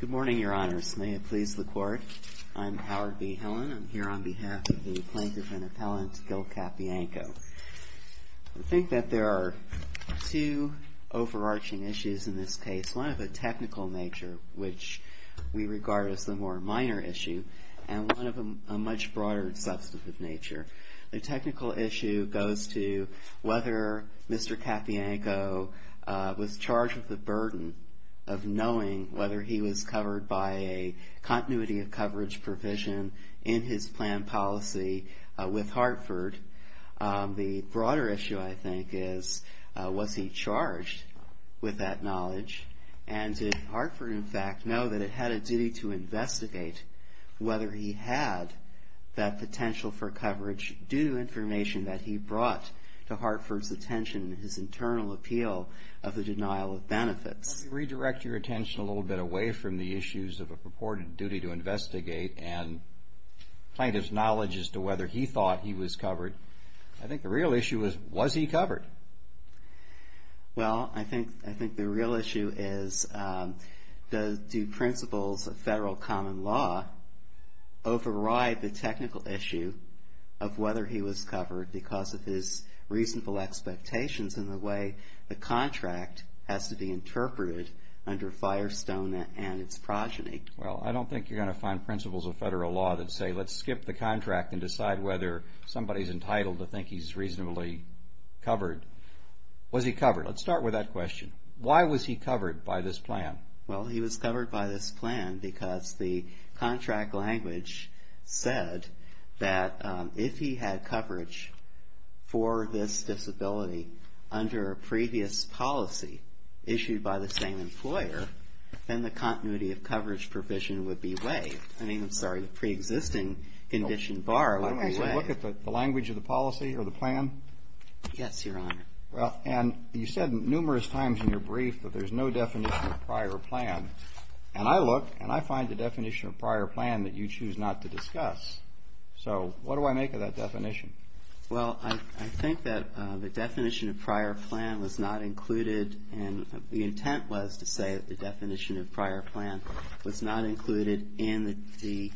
Good morning, Your Honors. May it please the Court, I'm Howard B. Hillen. I'm here on behalf of the Plaintiff and Appellant, Gil Capianco. I think that there are two overarching issues in this case, one of a technical nature, which we regard as the more minor issue, and one of a much broader substantive nature. The technical issue goes to whether Mr. Capianco was charged with the burden of knowing whether he was covered by a continuity of coverage provision in his plan policy with Hartford. The broader issue, I think, is was he charged with that knowledge, and did Hartford, in fact, know that it had a duty to investigate whether he had that potential for coverage due to information that he brought to Hartford's attention, his internal appeal of the denial of benefits. Let me redirect your attention a little bit away from the issues of a purported duty to investigate and plaintiff's knowledge as to whether he thought he was covered. I think the real issue is, was he covered? Well, I think the real issue is, do principles of federal common law override the technical issue of whether he was covered because of his reasonable expectations in the way the contract has to be interpreted under Firestone and its progeny? Well, I don't think you're going to find principles of federal law that say, let's skip the contract and decide whether somebody's entitled to think he's reasonably covered. Was he covered? Let's start with that question. Why was he covered by this plan? Well, he was covered by this plan because the contract language said that if he had coverage for this disability under a previous policy issued by the same employer, then the continuity of coverage provision would be waived. I mean, I'm sorry, the preexisting condition bar would be waived. I don't actually look at the language of the policy or the plan. Yes, Your Honor. Well, and you said numerous times in your brief that there's no definition of prior plan. And I look and I find the definition of prior plan that you choose not to discuss. So what do I make of that definition? Well, I think that the definition of prior plan was not included and the intent was to say that the definition of prior plan was not included in the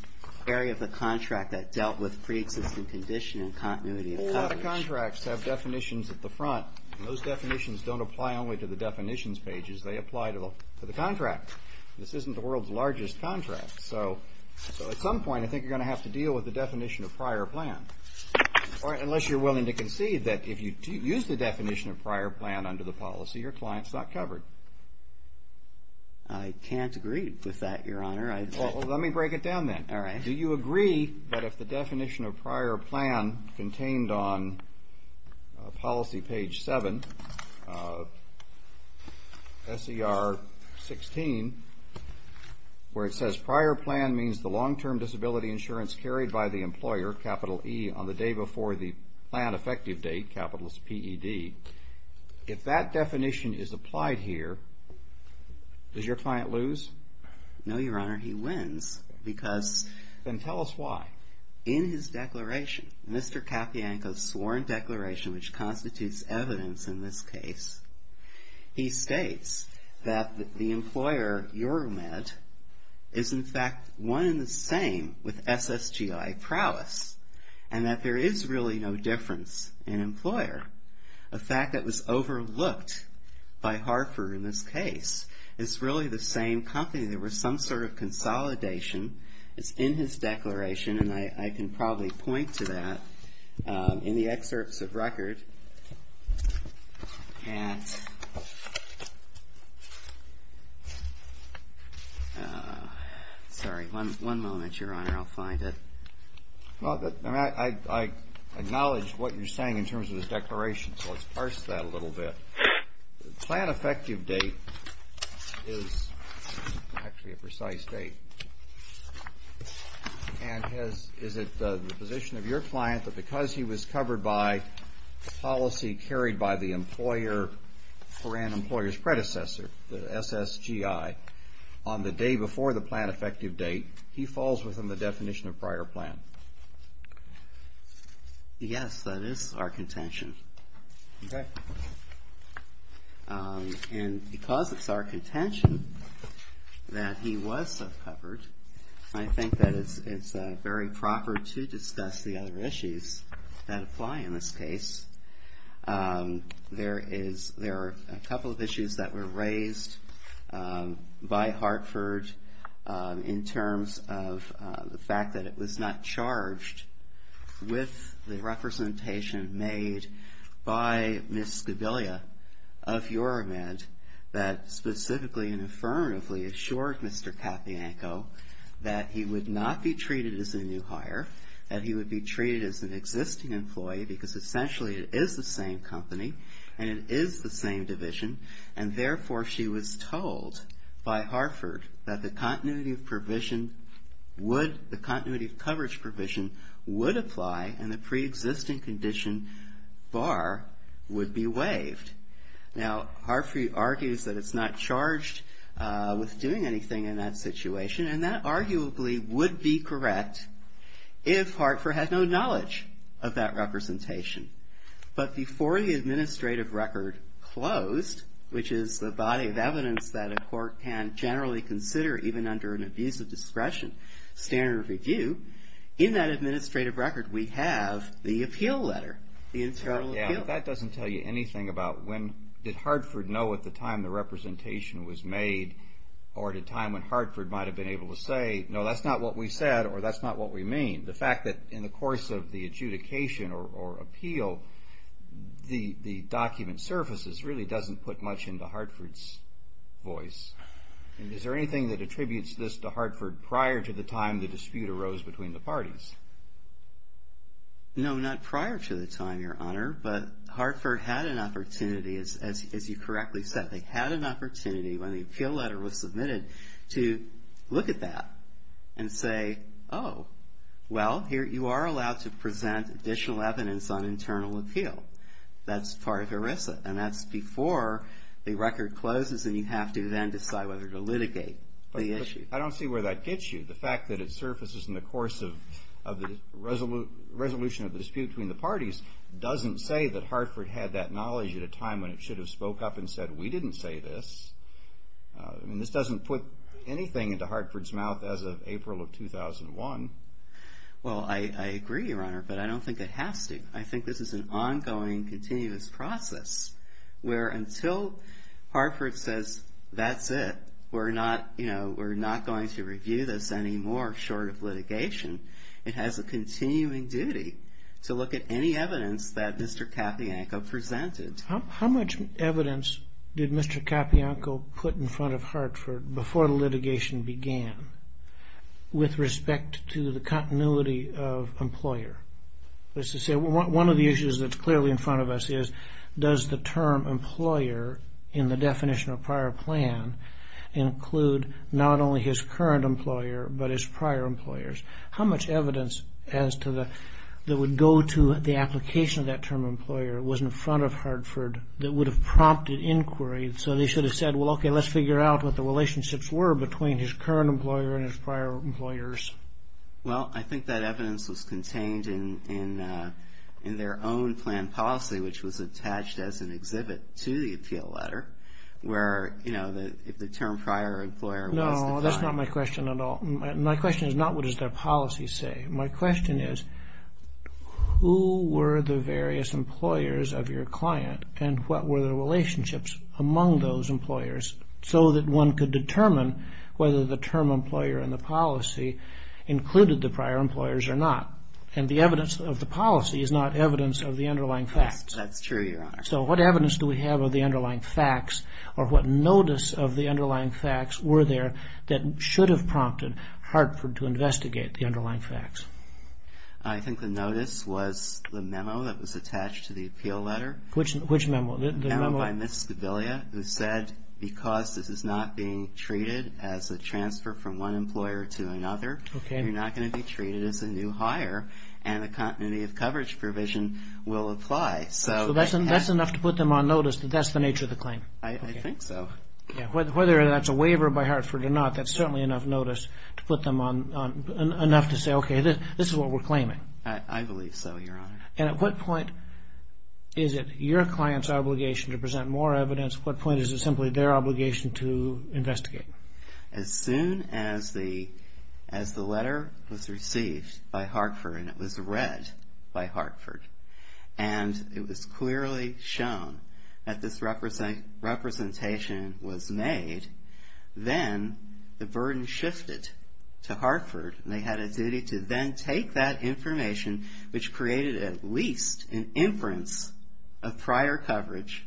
area of the contract that dealt with preexisting condition and continuity of coverage. Contracts have definitions at the front. Those definitions don't apply only to the definitions pages. They apply to the contract. This isn't the world's largest contract. So at some point, I think you're going to have to deal with the definition of prior plan. Unless you're willing to concede that if you use the definition of prior plan under the policy, your client's not covered. I can't agree with that, Your Honor. Well, let me break it down then. All right. Do you agree that if the definition of prior plan contained on policy page 7, S.E.R. 16, where it says prior plan means the long-term disability insurance carried by the employer, capital E, on the day before the plan effective date, capital PED, if that definition is applied here, does your client lose? No, Your Honor. He wins because Then tell us why. In his declaration, Mr. Capianco's sworn declaration, which constitutes evidence in this case, he states that the employer, EuroMed, is in fact one and the same with SSGI prowess and that there is really no difference in employer. A fact that was overlooked by Harford in this case. It's really the same company. There was some sort of consolidation. It's in his declaration, and I can probably point to that in the excerpts of record. Sorry. One moment, Your Honor. I'll find it. I acknowledge what you're saying in terms of his declaration, so let's parse that a little bit. The plan effective date is actually a precise date. And is it the position of your client that because he was covered by policy carried by the employer for an employer's predecessor, the SSGI, on the day before the plan effective date, he falls within the definition of prior plan? Yes, that is our contention. Okay. And because it's our contention that he was covered, I think that it's very proper to discuss the other issues that apply in this case. There are a couple of issues that were raised by Hartford in terms of the fact that it was not charged with the representation made by Ms. Skobelia of Uramed that specifically and affirmatively assured Mr. Katyanko that he would not be treated as a new hire, that he would be treated as an existing employee because essentially it is the same company and it is the same division. And therefore, she was told by Hartford that the continuity of provision would – the continuity of coverage provision would apply and the preexisting condition bar would be waived. Now, Hartford argues that it's not charged with doing anything in that situation and that arguably would be correct if Hartford had no knowledge of that representation. But before the administrative record closed, which is the body of evidence that a court can generally consider even under an abuse of discretion standard review, in that administrative record we have the appeal letter, the internal appeal. Yeah, but that doesn't tell you anything about when – did Hartford know at the time the representation was made or at a time when Hartford might have been able to say, no, that's not what we said or that's not what we mean. The fact that in the course of the adjudication or appeal, the document surfaces really doesn't put much into Hartford's voice. Is there anything that attributes this to Hartford prior to the time the dispute arose between the parties? No, not prior to the time, Your Honor, but Hartford had an opportunity, as you correctly said. They had an opportunity when the appeal letter was submitted to look at that and say, oh, well, you are allowed to present additional evidence on internal appeal. That's part of ERISA and that's before the record closes and you have to then decide whether to litigate the issue. I don't see where that gets you. The fact that it surfaces in the course of the resolution of the dispute between the parties doesn't say that Hartford had that knowledge at a time when it should have spoke up and said, we didn't say this. I mean, this doesn't put anything into Hartford's mouth as of April of 2001. Well, I agree, Your Honor, but I don't think it has to. I think this is an ongoing, continuous process where until Hartford says that's it, we're not going to review this anymore short of litigation. It has a continuing duty to look at any evidence that Mr. Capianco presented. How much evidence did Mr. Capianco put in front of Hartford before the litigation began with respect to the continuity of employer? One of the issues that's clearly in front of us is does the term employer in the definition of prior plan include not only his current employer but his prior employers? How much evidence that would go to the application of that term employer was in front of Hartford that would have prompted inquiry? So they should have said, well, okay, let's figure out what the relationships were between his current employer and his prior employers. Well, I think that evidence was contained in their own plan policy, which was attached as an exhibit to the appeal letter where, you know, if the term prior employer was defined. No, that's not my question at all. My question is not what does their policy say. My question is who were the various employers of your client and what were the relationships among those employers so that one could determine whether the term employer in the policy included the prior employers or not? And the evidence of the policy is not evidence of the underlying facts. Yes, that's true, Your Honor. So what evidence do we have of the underlying facts or what notice of the underlying facts were there that should have prompted Hartford to investigate the underlying facts? I think the notice was the memo that was attached to the appeal letter. Which memo? The memo by Ms. Scobilia who said because this is not being treated as a transfer from one employer to another, you're not going to be treated as a new hire and the continuity of coverage provision will apply. So that's enough to put them on notice that that's the nature of the claim? I think so. Whether that's a waiver by Hartford or not, that's certainly enough notice to put them on enough to say, okay, this is what we're claiming. I believe so, Your Honor. And at what point is it your client's obligation to present more evidence? At what point is it simply their obligation to investigate? As soon as the letter was received by Hartford and it was read by Hartford and it was clearly shown that this representation was made, then the burden shifted to Hartford. They had a duty to then take that information, which created at least an inference of prior coverage,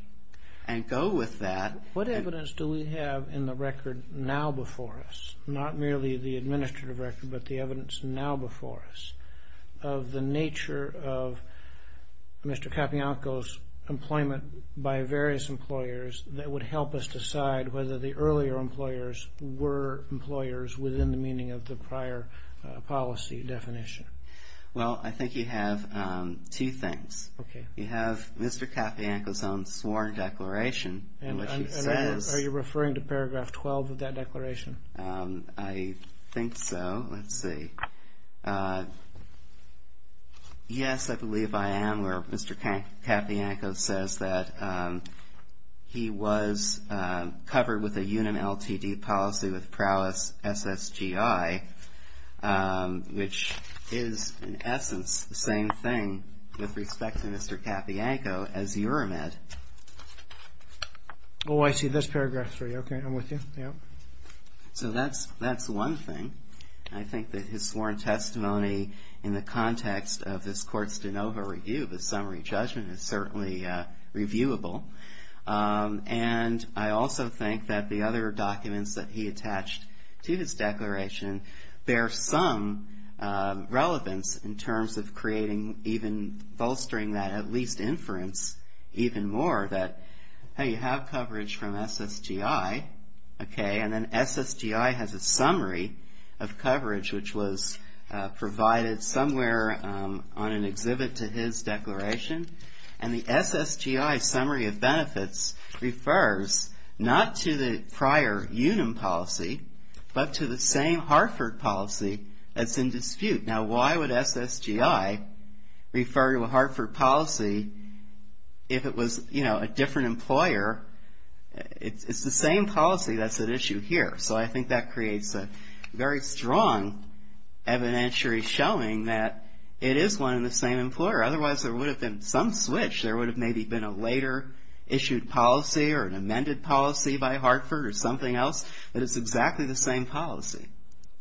and go with that. What evidence do we have in the record now before us, not merely the administrative record but the evidence now before us, of the nature of Mr. Capianco's employment by various employers that would help us decide whether the earlier employers were employers within the meaning of the prior policy definition? Well, I think you have two things. Okay. You have Mr. Capianco's own sworn declaration. Are you referring to paragraph 12 of that declaration? I think so. Let's see. Yes, I believe I am. Mr. Capianco says that he was covered with a UNAM LTD policy with Prowess SSGI, which is in essence the same thing with respect to Mr. Capianco as you're met. Oh, I see. That's paragraph three. Okay. I'm with you. Yeah. So that's one thing. I think that his sworn testimony in the context of this court's de novo review of the summary judgment is certainly reviewable. And I also think that the other documents that he attached to his declaration bear some relevance in terms of creating even bolstering that at least inference even more that, hey, you have coverage from SSGI, okay, and then SSGI has a summary of coverage, which was provided somewhere on an exhibit to his declaration. And the SSGI summary of benefits refers not to the prior UNAM policy, but to the same Hartford policy that's in dispute. Now, why would SSGI refer to a Hartford policy if it was, you know, a different employer? It's the same policy that's at issue here. So I think that creates a very strong evidentiary showing that it is one and the same employer. Otherwise, there would have been some switch. There would have maybe been a later issued policy or an amended policy by Hartford or something else, but it's exactly the same policy.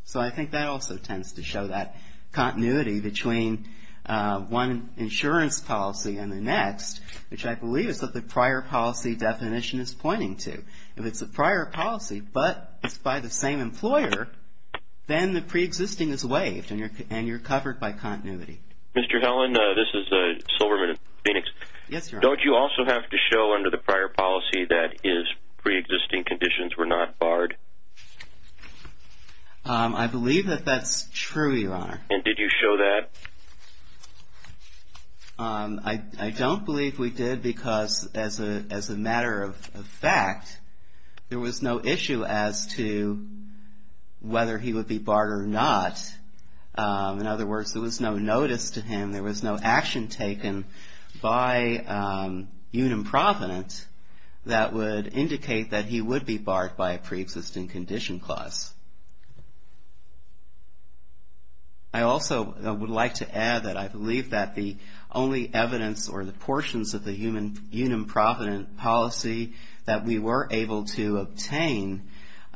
So I think that also tends to show that continuity between one insurance policy and the next, which I believe is that the prior policy definition is pointing to. If it's a prior policy but it's by the same employer, then the preexisting is waived and you're covered by continuity. Mr. Helland, this is Silverman of Phoenix. Yes, your honor. Don't you also have to show under the prior policy that his preexisting conditions were not barred? I believe that that's true, your honor. And did you show that? I don't believe we did because as a matter of fact, there was no issue as to whether he would be barred or not. In other words, there was no notice to him. There was no action taken by Unim Provident that would indicate that he would be barred by a preexisting condition clause. I also would like to add that I believe that the only evidence or the portions of the Unim Provident policy that we were able to obtain,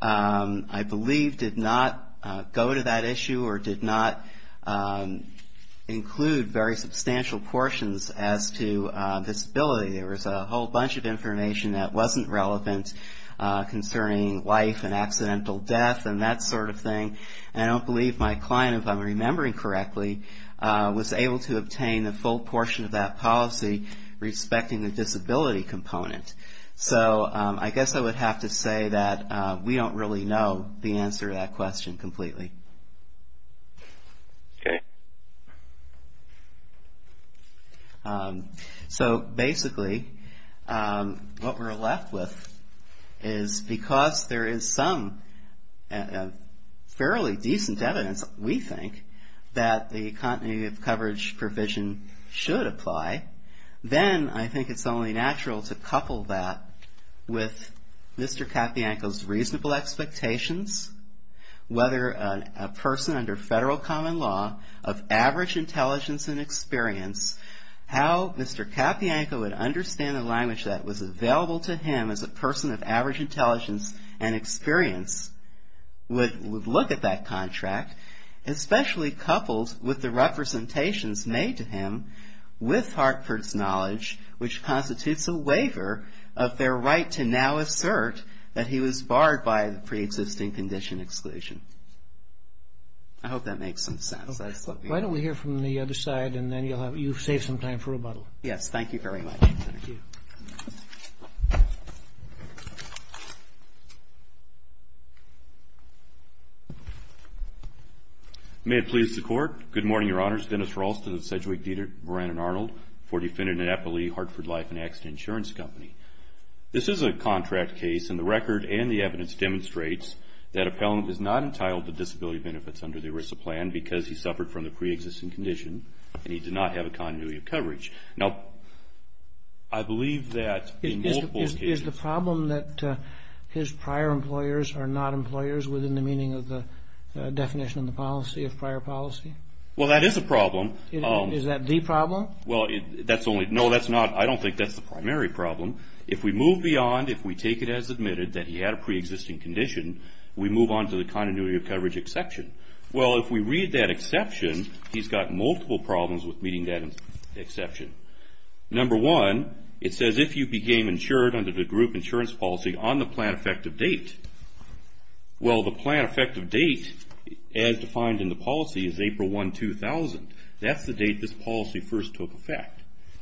I believe did not go to that issue or did not include very substantial portions as to disability. There was a whole bunch of information that wasn't relevant concerning life and accidental death and that sort of thing. And I don't believe my client, if I'm remembering correctly, was able to obtain a full portion of that policy respecting the disability component. So I guess I would have to say that we don't really know the answer to that question completely. Okay. So basically, what we're left with is because there is some fairly decent evidence, we think, that the continuity of coverage provision should apply. Then I think it's only natural to couple that with Mr. Capianco's reasonable expectations, whether a person under federal common law of average intelligence and experience, how Mr. Capianco would understand the language that was available to him as a person of average intelligence and experience, would look at that contract, especially coupled with the representations made to him with Hartford's knowledge, which constitutes a waiver of their right to now assert that he was barred by the preexisting condition exclusion. I hope that makes some sense. Why don't we hear from the other side, and then you'll save some time for rebuttal. Yes, thank you very much. Thank you. May it please the Court. Good morning, Your Honors. Dennis Ralston of Sedgwick, Dederick, Moran, and Arnold for defendant Annapolis Hartford Life and Accident Insurance Company. This is a contract case, and the record and the evidence demonstrates that appellant is not entitled to disability benefits under the ERISA plan because he suffered from the preexisting condition, and he did not have a continuity of coverage. Now, I believe that in multiple cases. Is the problem that his prior employers are not employers within the meaning of the definition of the policy of prior policy? Well, that is a problem. Is that the problem? Well, that's only – no, that's not – I don't think that's the primary problem. If we move beyond, if we take it as admitted that he had a preexisting condition, we move on to the continuity of coverage exception. Well, if we read that exception, he's got multiple problems with meeting that exception. Number one, it says if you became insured under the group insurance policy on the plan effective date. Well, the plan effective date, as defined in the policy, is April 1, 2000. That's the date this policy first took effect.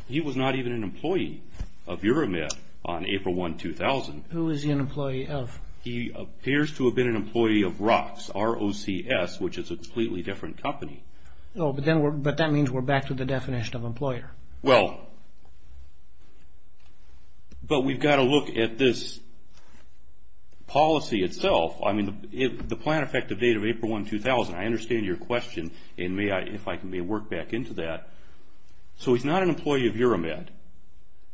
He was not even an employee of URAMET on April 1, 2000. Who is he an employee of? He appears to have been an employee of ROCS, R-O-C-S, which is a completely different company. Oh, but that means we're back to the definition of employer. Well, but we've got to look at this policy itself. I mean, the plan effective date of April 1, 2000, I understand your question, and if I can work back into that. So he's not an employee of URAMET.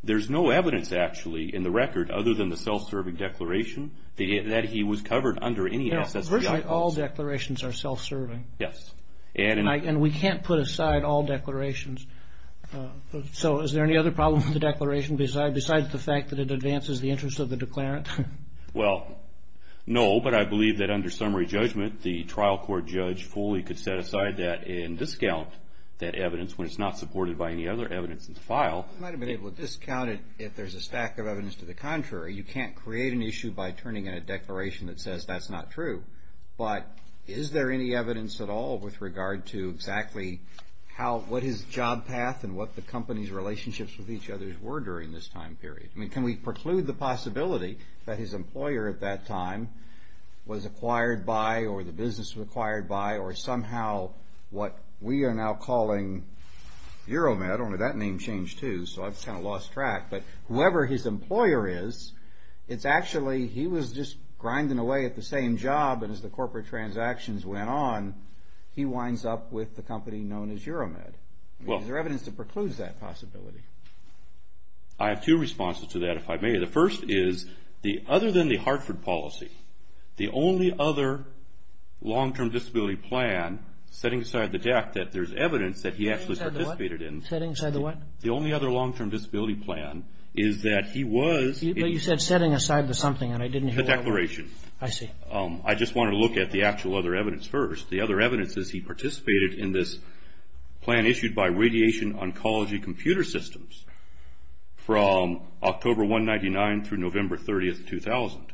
There's no evidence, actually, in the record other than the self-serving declaration that he was covered under any SSBI. No, virtually all declarations are self-serving. Yes. And we can't put aside all declarations. So is there any other problem with the declaration besides the fact that it advances the interest of the declarant? Well, no, but I believe that under summary judgment, the trial court judge fully could set aside that and discount that evidence when it's not supported by any other evidence in the file. He might have been able to discount it if there's a stack of evidence to the contrary. You can't create an issue by turning in a declaration that says that's not true. But is there any evidence at all with regard to exactly what his job path and what the company's relationships with each other were during this time period? I mean, can we preclude the possibility that his employer at that time was acquired by or the business was acquired by or somehow what we are now calling Euromed, only that name changed, too, so I've kind of lost track. But whoever his employer is, it's actually he was just grinding away at the same job and as the corporate transactions went on, he winds up with the company known as Euromed. Is there evidence that precludes that possibility? I have two responses to that, if I may. The first is other than the Hartford policy, the only other long-term disability plan setting aside the fact that there's evidence that he actually participated in. Setting aside the what? The only other long-term disability plan is that he was. But you said setting aside the something and I didn't hear what it was. The declaration. I see. I just want to look at the actual other evidence first. The other evidence is he participated in this plan issued by Radiation Oncology Computer Systems from October 199 through November 30, 2000.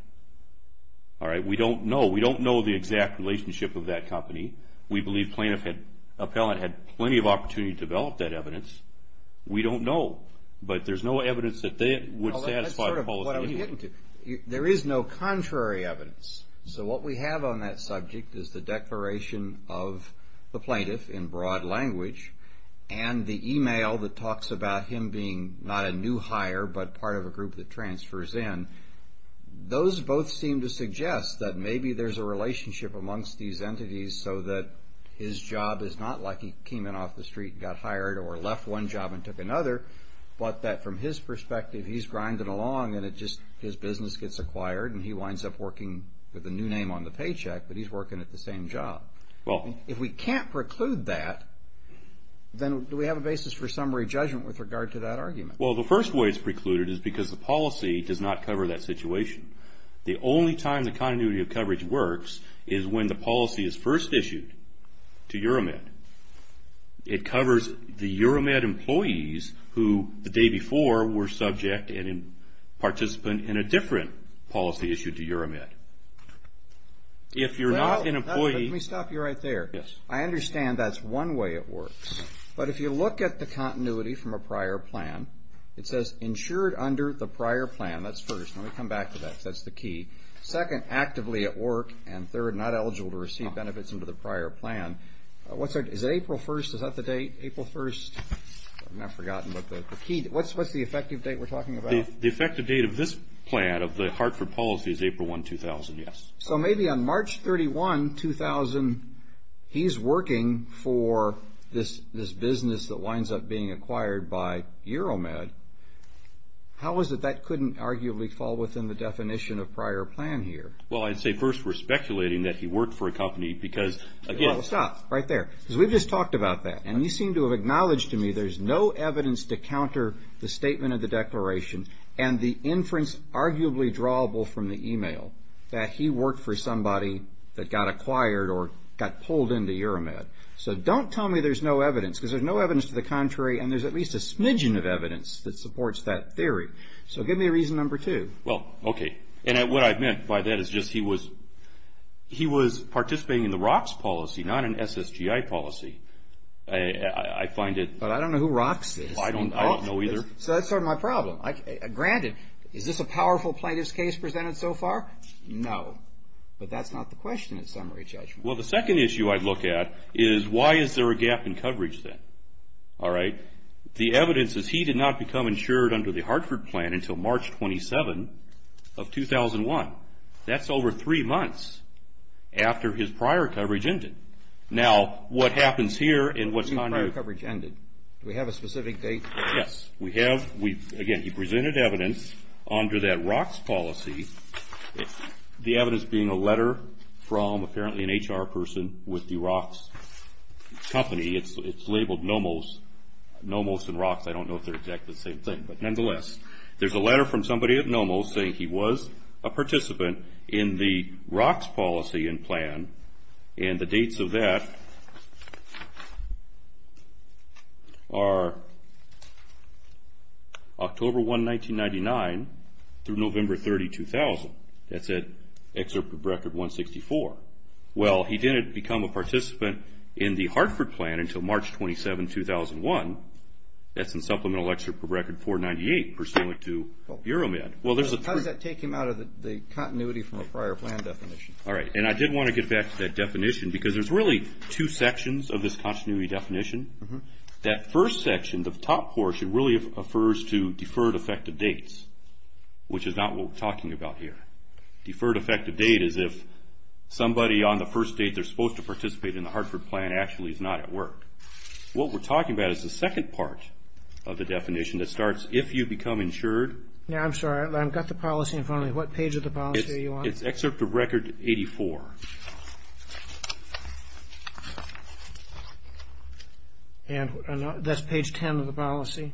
All right, we don't know. We don't know the exact relationship of that company. We believe plaintiff had plenty of opportunity to develop that evidence. We don't know. But there's no evidence that they would satisfy the policy. There is no contrary evidence. So what we have on that subject is the declaration of the plaintiff in broad language and the e-mail that talks about him being not a new hire but part of a group that transfers in. Those both seem to suggest that maybe there's a relationship amongst these entities so that his job is not like he came in off the street and got hired or left one job and took another, but that from his perspective he's grinding along and his business gets acquired and he winds up working with a new name on the paycheck, but he's working at the same job. If we can't preclude that, then do we have a basis for summary judgment with regard to that argument? Well, the first way it's precluded is because the policy does not cover that situation. The only time the continuity of coverage works is when the policy is first issued to Euromed. It covers the Euromed employees who the day before were subject and participant in a different policy issued to Euromed. Let me stop you right there. I understand that's one way it works, but if you look at the continuity from a prior plan, it says insured under the prior plan. That's first. Let me come back to that because that's the key. Second, actively at work, and third, not eligible to receive benefits under the prior plan. Is it April 1st? Is that the date, April 1st? I've now forgotten, but what's the effective date we're talking about? The effective date of this plan, of the Hartford policy, is April 1, 2000, yes. So maybe on March 31, 2000, he's working for this business that winds up being acquired by Euromed. How is it that couldn't arguably fall within the definition of prior plan here? Well, I'd say first we're speculating that he worked for a company because, again- Well, stop right there because we've just talked about that, and you seem to have acknowledged to me there's no evidence to counter the statement of the declaration and the inference arguably drawable from the email that he worked for somebody that got acquired or got pulled into Euromed. So don't tell me there's no evidence because there's no evidence to the contrary, and there's at least a smidgen of evidence that supports that theory. So give me reason number two. Well, okay, and what I meant by that is just he was participating in the ROCS policy, not an SSGI policy. I find it- But I don't know who ROCS is. I don't know either. So that's sort of my problem. Granted, is this a powerful plaintiff's case presented so far? No, but that's not the question in summary judgment. Well, the second issue I'd look at is why is there a gap in coverage then? All right. The evidence is he did not become insured under the Hartford plan until March 27 of 2001. That's over three months after his prior coverage ended. Now, what happens here and what's on your- Prior coverage ended. Do we have a specific date? Yes, we have. Again, he presented evidence under that ROCS policy, the evidence being a letter from apparently an HR person with the ROCS company. It's labeled NOMOS. NOMOS and ROCS, I don't know if they're exactly the same thing. But nonetheless, there's a letter from somebody at NOMOS saying he was a participant in the ROCS policy and plan, and the dates of that are October 1, 1999 through November 30, 2000. That's at Excerpt of Record 164. Well, he didn't become a participant in the Hartford plan until March 27, 2001. That's in Supplemental Excerpt of Record 498, pursuant to Bureau Med. Well, there's a- How does that take him out of the continuity from a prior plan definition? All right. And I did want to get back to that definition because there's really two sections of this continuity definition. That first section, the top portion, really refers to deferred effective dates, which is not what we're talking about here. Deferred effective date is if somebody on the first date they're supposed to participate in the Hartford plan actually is not at work. What we're talking about is the second part of the definition that starts, if you become insured- I'm sorry. I've got the policy in front of me. What page of the policy are you on? It's Excerpt of Record 84. And that's page 10 of the policy?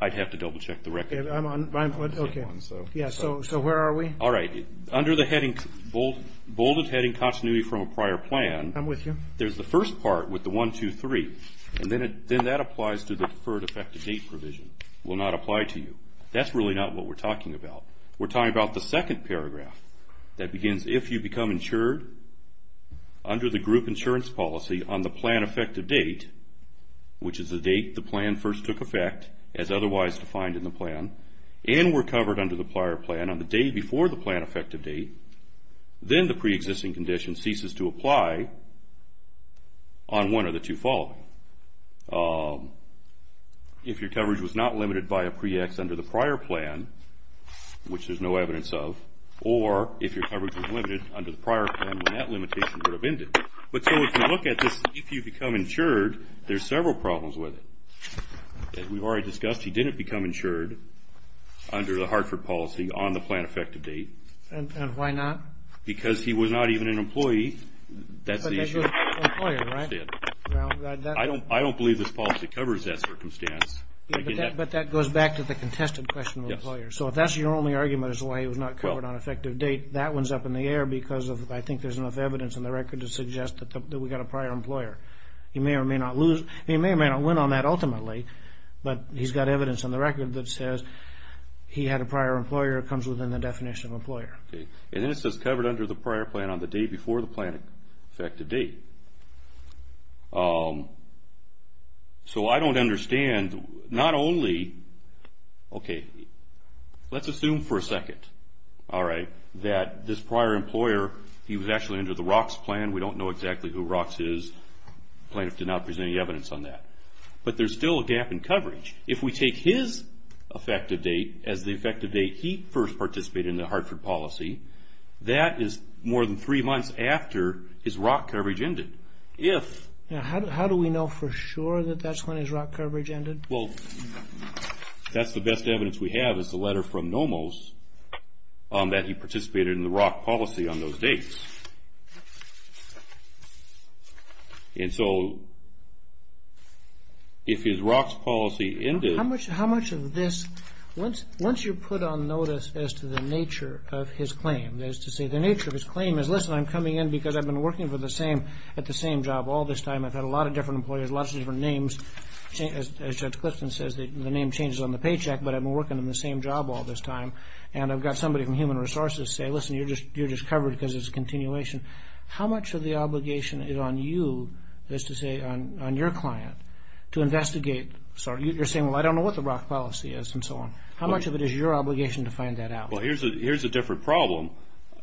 I'd have to double-check the record. I'm on- Okay. Yeah, so where are we? All right. Under the bolded heading continuity from a prior plan- I'm with you. There's the first part with the 1, 2, 3, and then that applies to the deferred effective date provision. It will not apply to you. That's really not what we're talking about. We're talking about the second paragraph that begins, if you become insured under the group insurance policy on the plan effective date, which is the date the plan first took effect as otherwise defined in the plan, and were covered under the prior plan on the day before the plan effective date, then the preexisting condition ceases to apply on one of the two following. If your coverage was not limited by a pre-ex under the prior plan, which there's no evidence of, or if your coverage was limited under the prior plan when that limitation would have ended. But so if you look at this, if you become insured, there's several problems with it. As we've already discussed, he didn't become insured under the Hartford policy on the plan effective date. And why not? Because he was not even an employee. That's the issue. But he was an employer, right? I don't believe this policy covers that circumstance. But that goes back to the contested question of employers. Yes. So if that's your only argument as to why he was not covered on effective date, that one's up in the air because I think there's enough evidence in the record to suggest that we've got a prior employer. He may or may not lose. He may or may not win on that ultimately, but he's got evidence on the record that says he had a prior employer that comes within the definition of employer. And then it says covered under the prior plan on the day before the plan effective date. So I don't understand. And not only, okay, let's assume for a second, all right, that this prior employer, he was actually under the ROCKS plan. We don't know exactly who ROCKS is. The plaintiff did not present any evidence on that. But there's still a gap in coverage. If we take his effective date as the effective date he first participated in the Hartford policy, that is more than three months after his ROCKS coverage ended. Now, how do we know for sure that that's when his ROCKS coverage ended? Well, that's the best evidence we have is the letter from NOMOS that he participated in the ROCKS policy on those dates. And so if his ROCKS policy ended... How much of this, once you put on notice as to the nature of his claim, as to say the nature of his claim is, listen, I'm coming in because I've been working at the same job all this time. I've had a lot of different employers, lots of different names. As Judge Clifton says, the name changes on the paycheck, but I've been working on the same job all this time. And I've got somebody from Human Resources say, listen, you're just covered because it's a continuation. How much of the obligation is on you as to say on your client to investigate? So you're saying, well, I don't know what the ROCKS policy is and so on. How much of it is your obligation to find that out? Well, here's a different problem.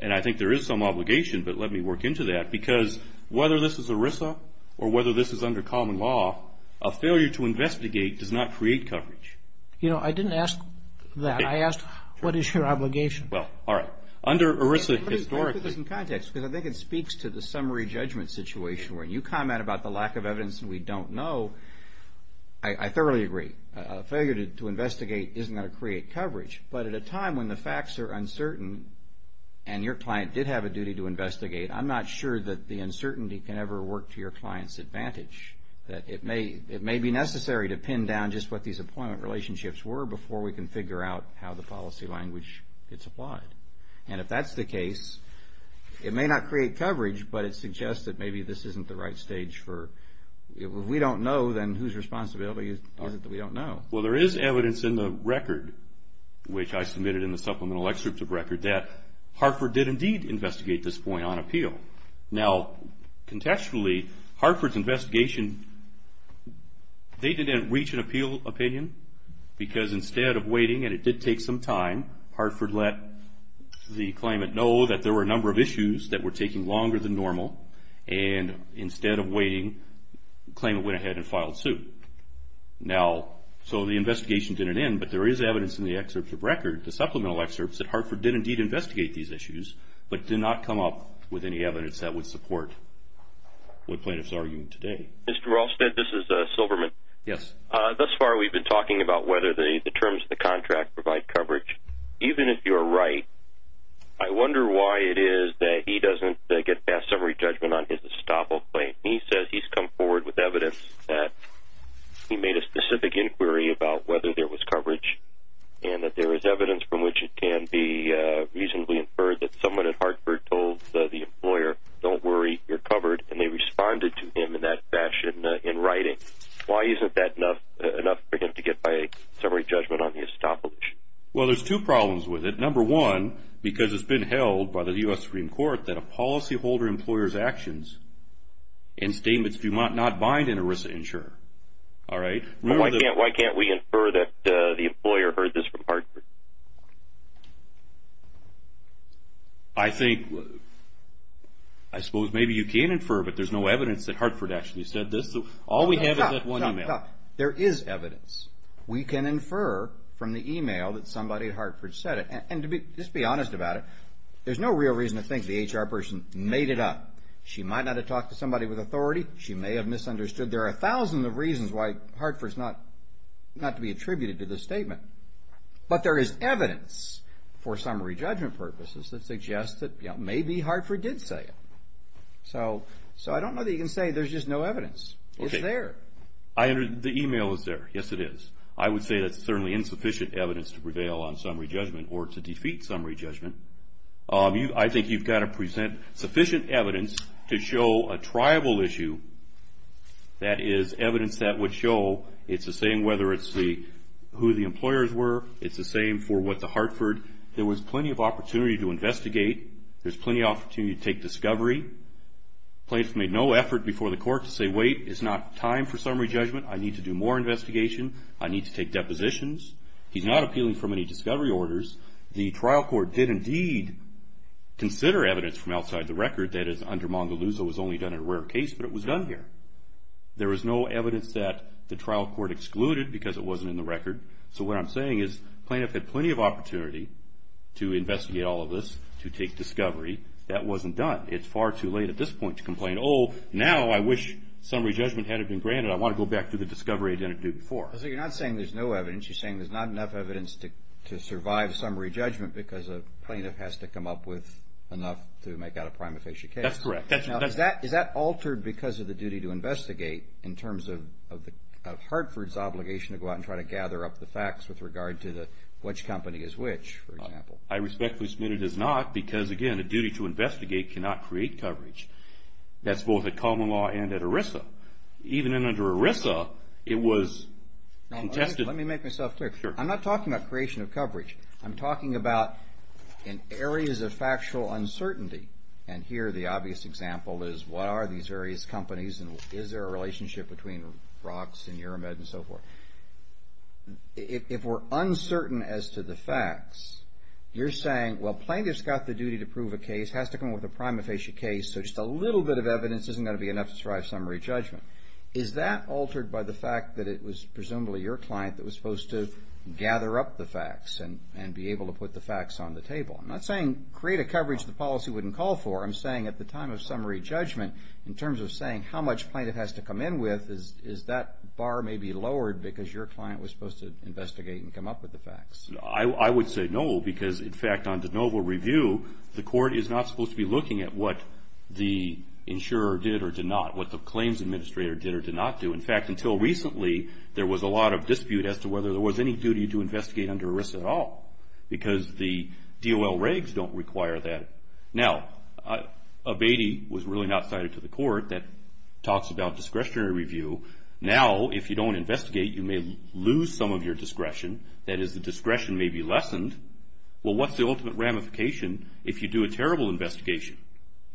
And I think there is some obligation, but let me work into that. Because whether this is ERISA or whether this is under common law, a failure to investigate does not create coverage. You know, I didn't ask that. I asked, what is your obligation? Well, all right. Under ERISA, historically... Let me put this in context because I think it speaks to the summary judgment situation where you comment about the lack of evidence and we don't know. I thoroughly agree. A failure to investigate isn't going to create coverage. But at a time when the facts are uncertain and your client did have a duty to investigate, I'm not sure that the uncertainty can ever work to your client's advantage, that it may be necessary to pin down just what these appointment relationships were before we can figure out how the policy language gets applied. And if that's the case, it may not create coverage, but it suggests that maybe this isn't the right stage for... If we don't know, then whose responsibility is it that we don't know? Well, there is evidence in the record, which I submitted in the supplemental excerpt of record, that Hartford did indeed investigate this point on appeal. Now, contextually, Hartford's investigation, they didn't reach an appeal opinion because instead of waiting, and it did take some time, Hartford let the claimant know that there were a number of issues that were taking longer than normal, and instead of waiting, the claimant went ahead and filed suit. Now, so the investigation didn't end, but there is evidence in the excerpt of record, the supplemental excerpts, that Hartford did indeed investigate these issues, but did not come up with any evidence that would support what plaintiffs are arguing today. Mr. Rolstad, this is Silverman. Yes. Thus far, we've been talking about whether the terms of the contract provide coverage. Even if you're right, I wonder why it is that he doesn't get past summary judgment on his estoppel claim. He says he's come forward with evidence that he made a specific inquiry about whether there was coverage and that there is evidence from which it can be reasonably inferred that someone at Hartford told the employer, don't worry, you're covered, and they responded to him in that fashion in writing. Why isn't that enough for him to get by a summary judgment on the estoppel issue? Well, there's two problems with it. Number one, because it's been held by the U.S. Supreme Court that a policyholder employer's actions and statements do not bind an ERISA insurer. Why can't we infer that the employer heard this from Hartford? I think, I suppose maybe you can infer, but there's no evidence that Hartford actually said this. All we have is that one email. Stop, stop, stop. There is evidence. We can infer from the email that somebody at Hartford said it. And to just be honest about it, there's no real reason to think the HR person made it up. She might not have talked to somebody with authority. She may have misunderstood. There are thousands of reasons why Hartford's not to be attributed to this statement. But there is evidence for summary judgment purposes that suggests that maybe Hartford did say it. So I don't know that you can say there's just no evidence. It's there. The email is there. Yes, it is. I would say that's certainly insufficient evidence to prevail on summary judgment or to defeat summary judgment. I think you've got to present sufficient evidence to show a triable issue, that is evidence that would show it's the same whether it's who the employers were, it's the same for what the Hartford. There was plenty of opportunity to investigate. There's plenty of opportunity to take discovery. Plaintiff made no effort before the court to say, wait, it's not time for summary judgment. I need to do more investigation. I need to take depositions. He's not appealing for many discovery orders. The trial court did indeed consider evidence from outside the record that is under Mongoluzo was only done in a rare case, but it was done here. There was no evidence that the trial court excluded because it wasn't in the record. So what I'm saying is plaintiff had plenty of opportunity to investigate all of this, to take discovery. That wasn't done. It's far too late at this point to complain, oh, now I wish summary judgment had been granted. I want to go back to the discovery I didn't do before. So you're not saying there's no evidence. You're saying there's not enough evidence to survive summary judgment because a plaintiff has to come up with enough to make out a prima facie case. That's correct. Is that altered because of the duty to investigate in terms of Hartford's obligation to go out and try to gather up the facts with regard to which company is which, for example? I respectfully submit it is not because, again, the duty to investigate cannot create coverage. That's both at Common Law and at ERISA. Even under ERISA, it was contested. Let me make myself clear. I'm not talking about creation of coverage. I'm talking about in areas of factual uncertainty. And here the obvious example is what are these various companies and is there a relationship between Roxx and Uramed and so forth. If we're uncertain as to the facts, you're saying, well, plaintiff's got the duty to prove a case, has to come up with a prima facie case, so just a little bit of evidence isn't going to be enough to survive summary judgment. Is that altered by the fact that it was presumably your client that was supposed to gather up the facts and be able to put the facts on the table? I'm not saying create a coverage the policy wouldn't call for. I'm saying at the time of summary judgment, in terms of saying how much plaintiff has to come in with, is that bar maybe lowered because your client was supposed to investigate and come up with the facts? I would say no because, in fact, on de novo review, the court is not supposed to be looking at what the insurer did or did not, what the claims administrator did or did not do. In fact, until recently, there was a lot of dispute as to whether there was any duty to investigate under ERISA at all because the DOL regs don't require that. Now, a Beatty was really not cited to the court that talks about discretionary review. Now, if you don't investigate, you may lose some of your discretion. That is, the discretion may be lessened. Well, what's the ultimate ramification if you do a terrible investigation?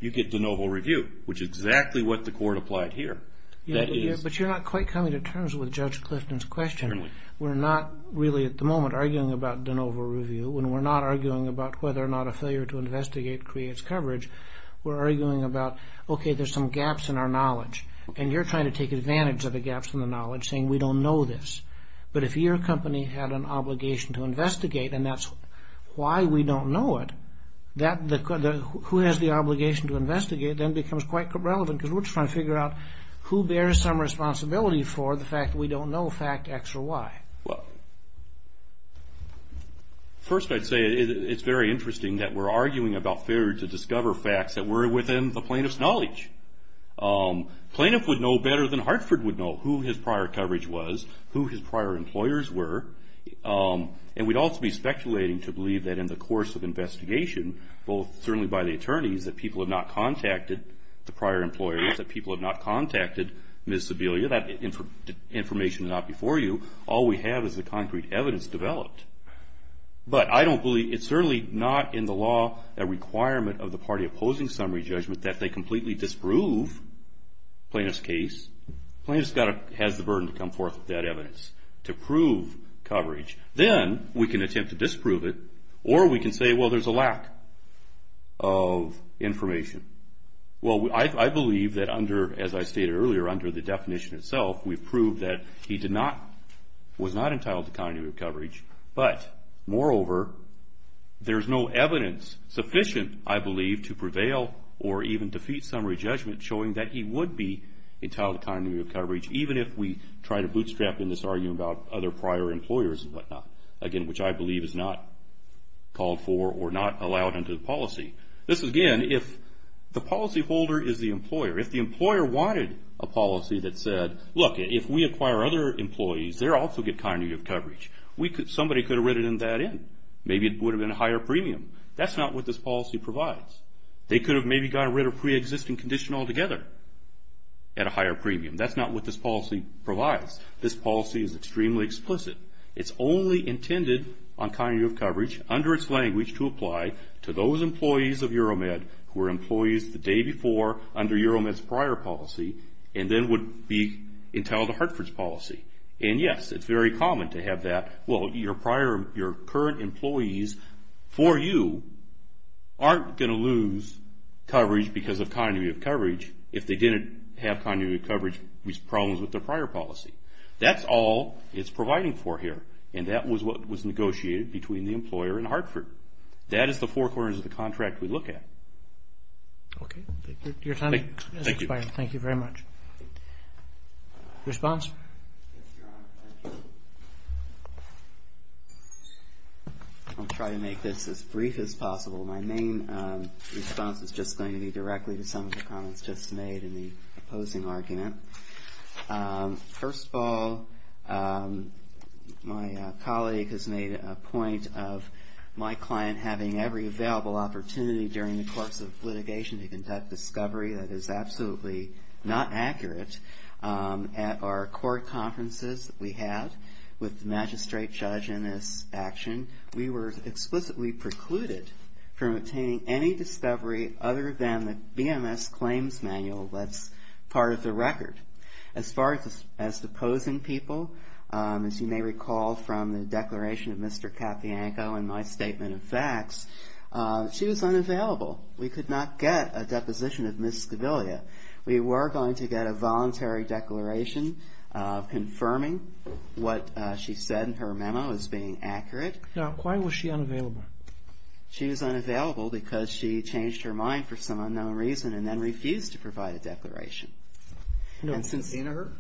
You get de novo review, which is exactly what the court applied here. But you're not quite coming to terms with Judge Clifton's question. Certainly. We're not really at the moment arguing about de novo review and we're not arguing about whether or not a failure to investigate creates coverage. We're arguing about, okay, there's some gaps in our knowledge, and you're trying to take advantage of the gaps in the knowledge, saying we don't know this. But if your company had an obligation to investigate and that's why we don't know it, who has the obligation to investigate then becomes quite relevant because we're just trying to figure out who bears some responsibility for the fact that we don't know fact X or Y. Well, first I'd say it's very interesting that we're arguing about failure to discover facts that were within the plaintiff's knowledge. Plaintiff would know better than Hartford would know who his prior coverage was, who his prior employers were. And we'd also be speculating to believe that in the course of investigation, both certainly by the attorneys that people have not contacted the prior employers, that people have not contacted Ms. Sebelia, that information is not before you. All we have is the concrete evidence developed. But I don't believe, it's certainly not in the law a requirement of the party opposing summary judgment that they completely disprove plaintiff's case. Plaintiff has the burden to come forth with that evidence to prove coverage. Then we can attempt to disprove it, or we can say, well, there's a lack of information. Well, I believe that under, as I stated earlier, under the definition itself, we've proved that he was not entitled to continuity of coverage. But, moreover, there's no evidence sufficient, I believe, to prevail or even defeat summary judgment showing that he would be entitled to continuity of coverage, even if we try to bootstrap in this argument about other prior employers and whatnot, again, which I believe is not called for or not allowed under the policy. This is, again, if the policyholder is the employer. If the employer wanted a policy that said, look, if we acquire other employees, they'll also get continuity of coverage, somebody could have written that in. Maybe it would have been a higher premium. That's not what this policy provides. They could have maybe gotten rid of preexisting condition altogether at a higher premium. That's not what this policy provides. This policy is extremely explicit. It's only intended on continuity of coverage under its language to apply to those employees of EuroMed who were employees the day before under EuroMed's prior policy and then would be entitled to Hartford's policy. And, yes, it's very common to have that. Well, your current employees for you aren't going to lose coverage because of continuity of coverage if they didn't have continuity of coverage problems with their prior policy. That's all it's providing for here, and that was what was negotiated between the employer and Hartford. That is the four corners of the contract we look at. Okay. Your time has expired. Thank you. Thank you very much. Response? Yes, Your Honor. Thank you. I'll try to make this as brief as possible. My main response is just going to be directly to some of the comments just made in the opposing argument. First of all, my colleague has made a point of my client having every available opportunity during the course of litigation to conduct discovery that is absolutely not accurate. At our court conferences that we had with the magistrate judge in this action, we were explicitly precluded from obtaining any discovery other than the BMS claims manual. That's part of the record. As far as the opposing people, as you may recall from the declaration of Mr. Cappianco and my statement of facts, she was unavailable. We could not get a deposition of Ms. Scaviglia. We were going to get a voluntary declaration confirming what she said in her memo as being accurate. Now, why was she unavailable? She was unavailable because she changed her mind for some unknown reason and then refused to provide a declaration. Subpoena her?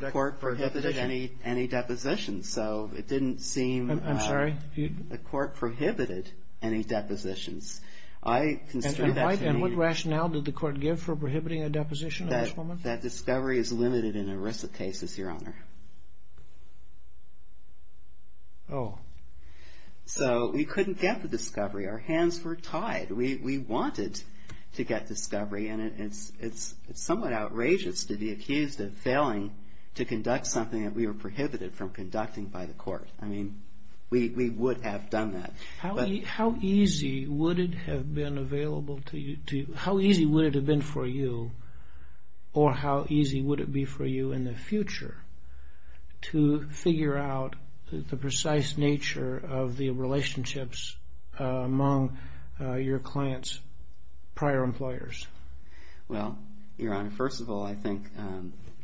The court prohibited any depositions, so it didn't seem the court prohibited any depositions. And what rationale did the court give for prohibiting a deposition at this moment? That discovery is limited in ERISA cases, Your Honor. Oh. So we couldn't get the discovery. Our hands were tied. We wanted to get discovery, and it's somewhat outrageous to be accused of failing to conduct something that we were prohibited from conducting by the court. I mean, we would have done that. How easy would it have been available to you? How easy would it have been for you, or how easy would it be for you in the future to figure out the precise nature of the relationships among your client's prior employers? Well, Your Honor, first of all, I think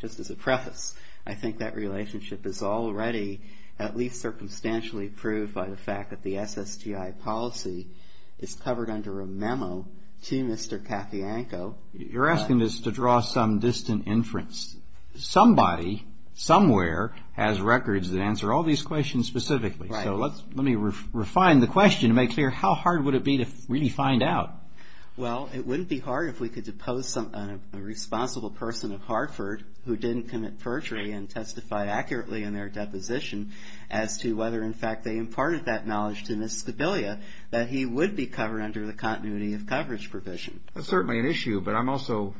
just as a preface, I think that relationship is already at least circumstantially proved by the fact that the SSTI policy is covered under a memo to Mr. Katyanko. You're asking us to draw some distant inference. Somebody, somewhere, has records that answer all these questions specifically. Right. So let me refine the question to make clear, how hard would it be to really find out? Well, it wouldn't be hard if we could depose a responsible person at Hartford who didn't commit perjury and testify accurately in their deposition as to whether, in fact, they imparted that knowledge to Ms. Skobilia that he would be covered under the continuity of coverage provision. That's certainly an issue, but I'm also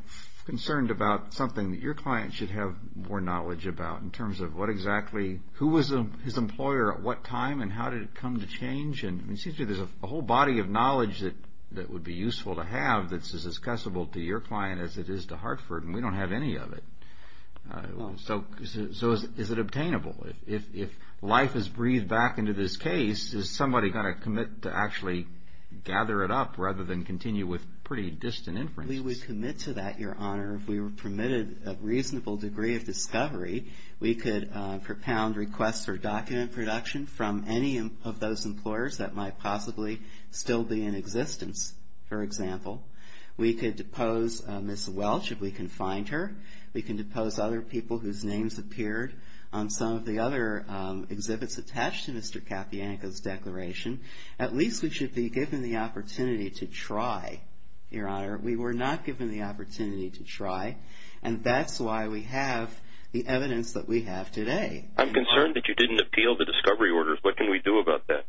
concerned about something that your client should have more knowledge about in terms of what exactly, who was his employer at what time, and how did it come to change? It seems to me there's a whole body of knowledge that would be useful to have that's as accessible to your client as it is to Hartford, and we don't have any of it. So is it obtainable? If life is breathed back into this case, is somebody going to commit to actually gather it up rather than continue with pretty distant inferences? We would commit to that, Your Honor. If we were permitted a reasonable degree of discovery, we could propound requests for document production from any of those employers that might possibly still be in existence, for example. We could depose Ms. Welch if we can find her. We can depose other people whose names appeared on some of the other exhibits attached to Mr. Kapianka's declaration. At least we should be given the opportunity to try, Your Honor. We were not given the opportunity to try, and that's why we have the evidence that we have today. I'm concerned that you didn't appeal the discovery orders. What can we do about that?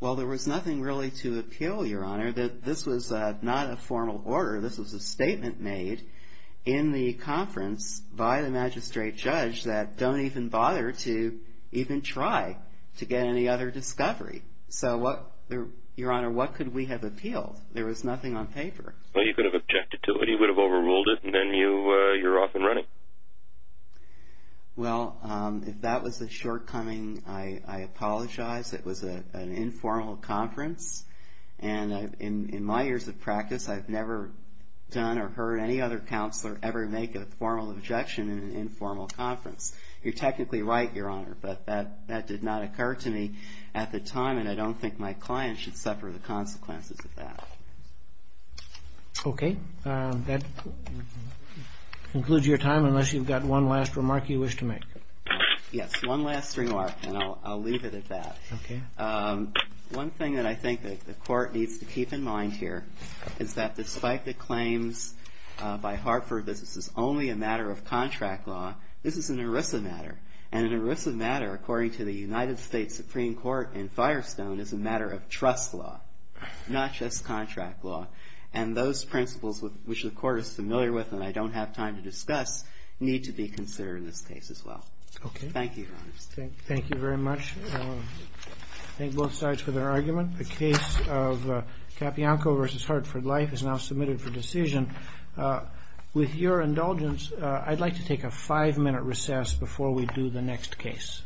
Well, there was nothing really to appeal, Your Honor. This was not a formal order. This was a statement made in the conference by the magistrate judge that don't even bother to even try to get any other discovery. So, Your Honor, what could we have appealed? There was nothing on paper. Well, you could have objected to it. You would have overruled it, and then you're off and running. Well, if that was the shortcoming, I apologize. It was an informal conference, and in my years of practice, I've never done or heard any other counselor ever make a formal objection in an informal conference. You're technically right, Your Honor, but that did not occur to me at the time, and I don't think my client should suffer the consequences of that. Okay. That concludes your time, unless you've got one last remark you wish to make. Yes, one last remark, and I'll leave it at that. Okay. One thing that I think the Court needs to keep in mind here is that despite the claims by Hartford that this is only a matter of contract law, this is an ERISA matter, and an ERISA matter, according to the United States Supreme Court in Firestone, is a matter of trust law, not just contract law, and those principles which the Court is familiar with and I don't have time to discuss need to be considered in this case as well. Okay. Thank you, Your Honor. Thank you very much. I thank both sides for their argument. The case of Kapianko v. Hartford Life is now submitted for decision. With your indulgence, I'd like to take a five-minute recess before we do the next case.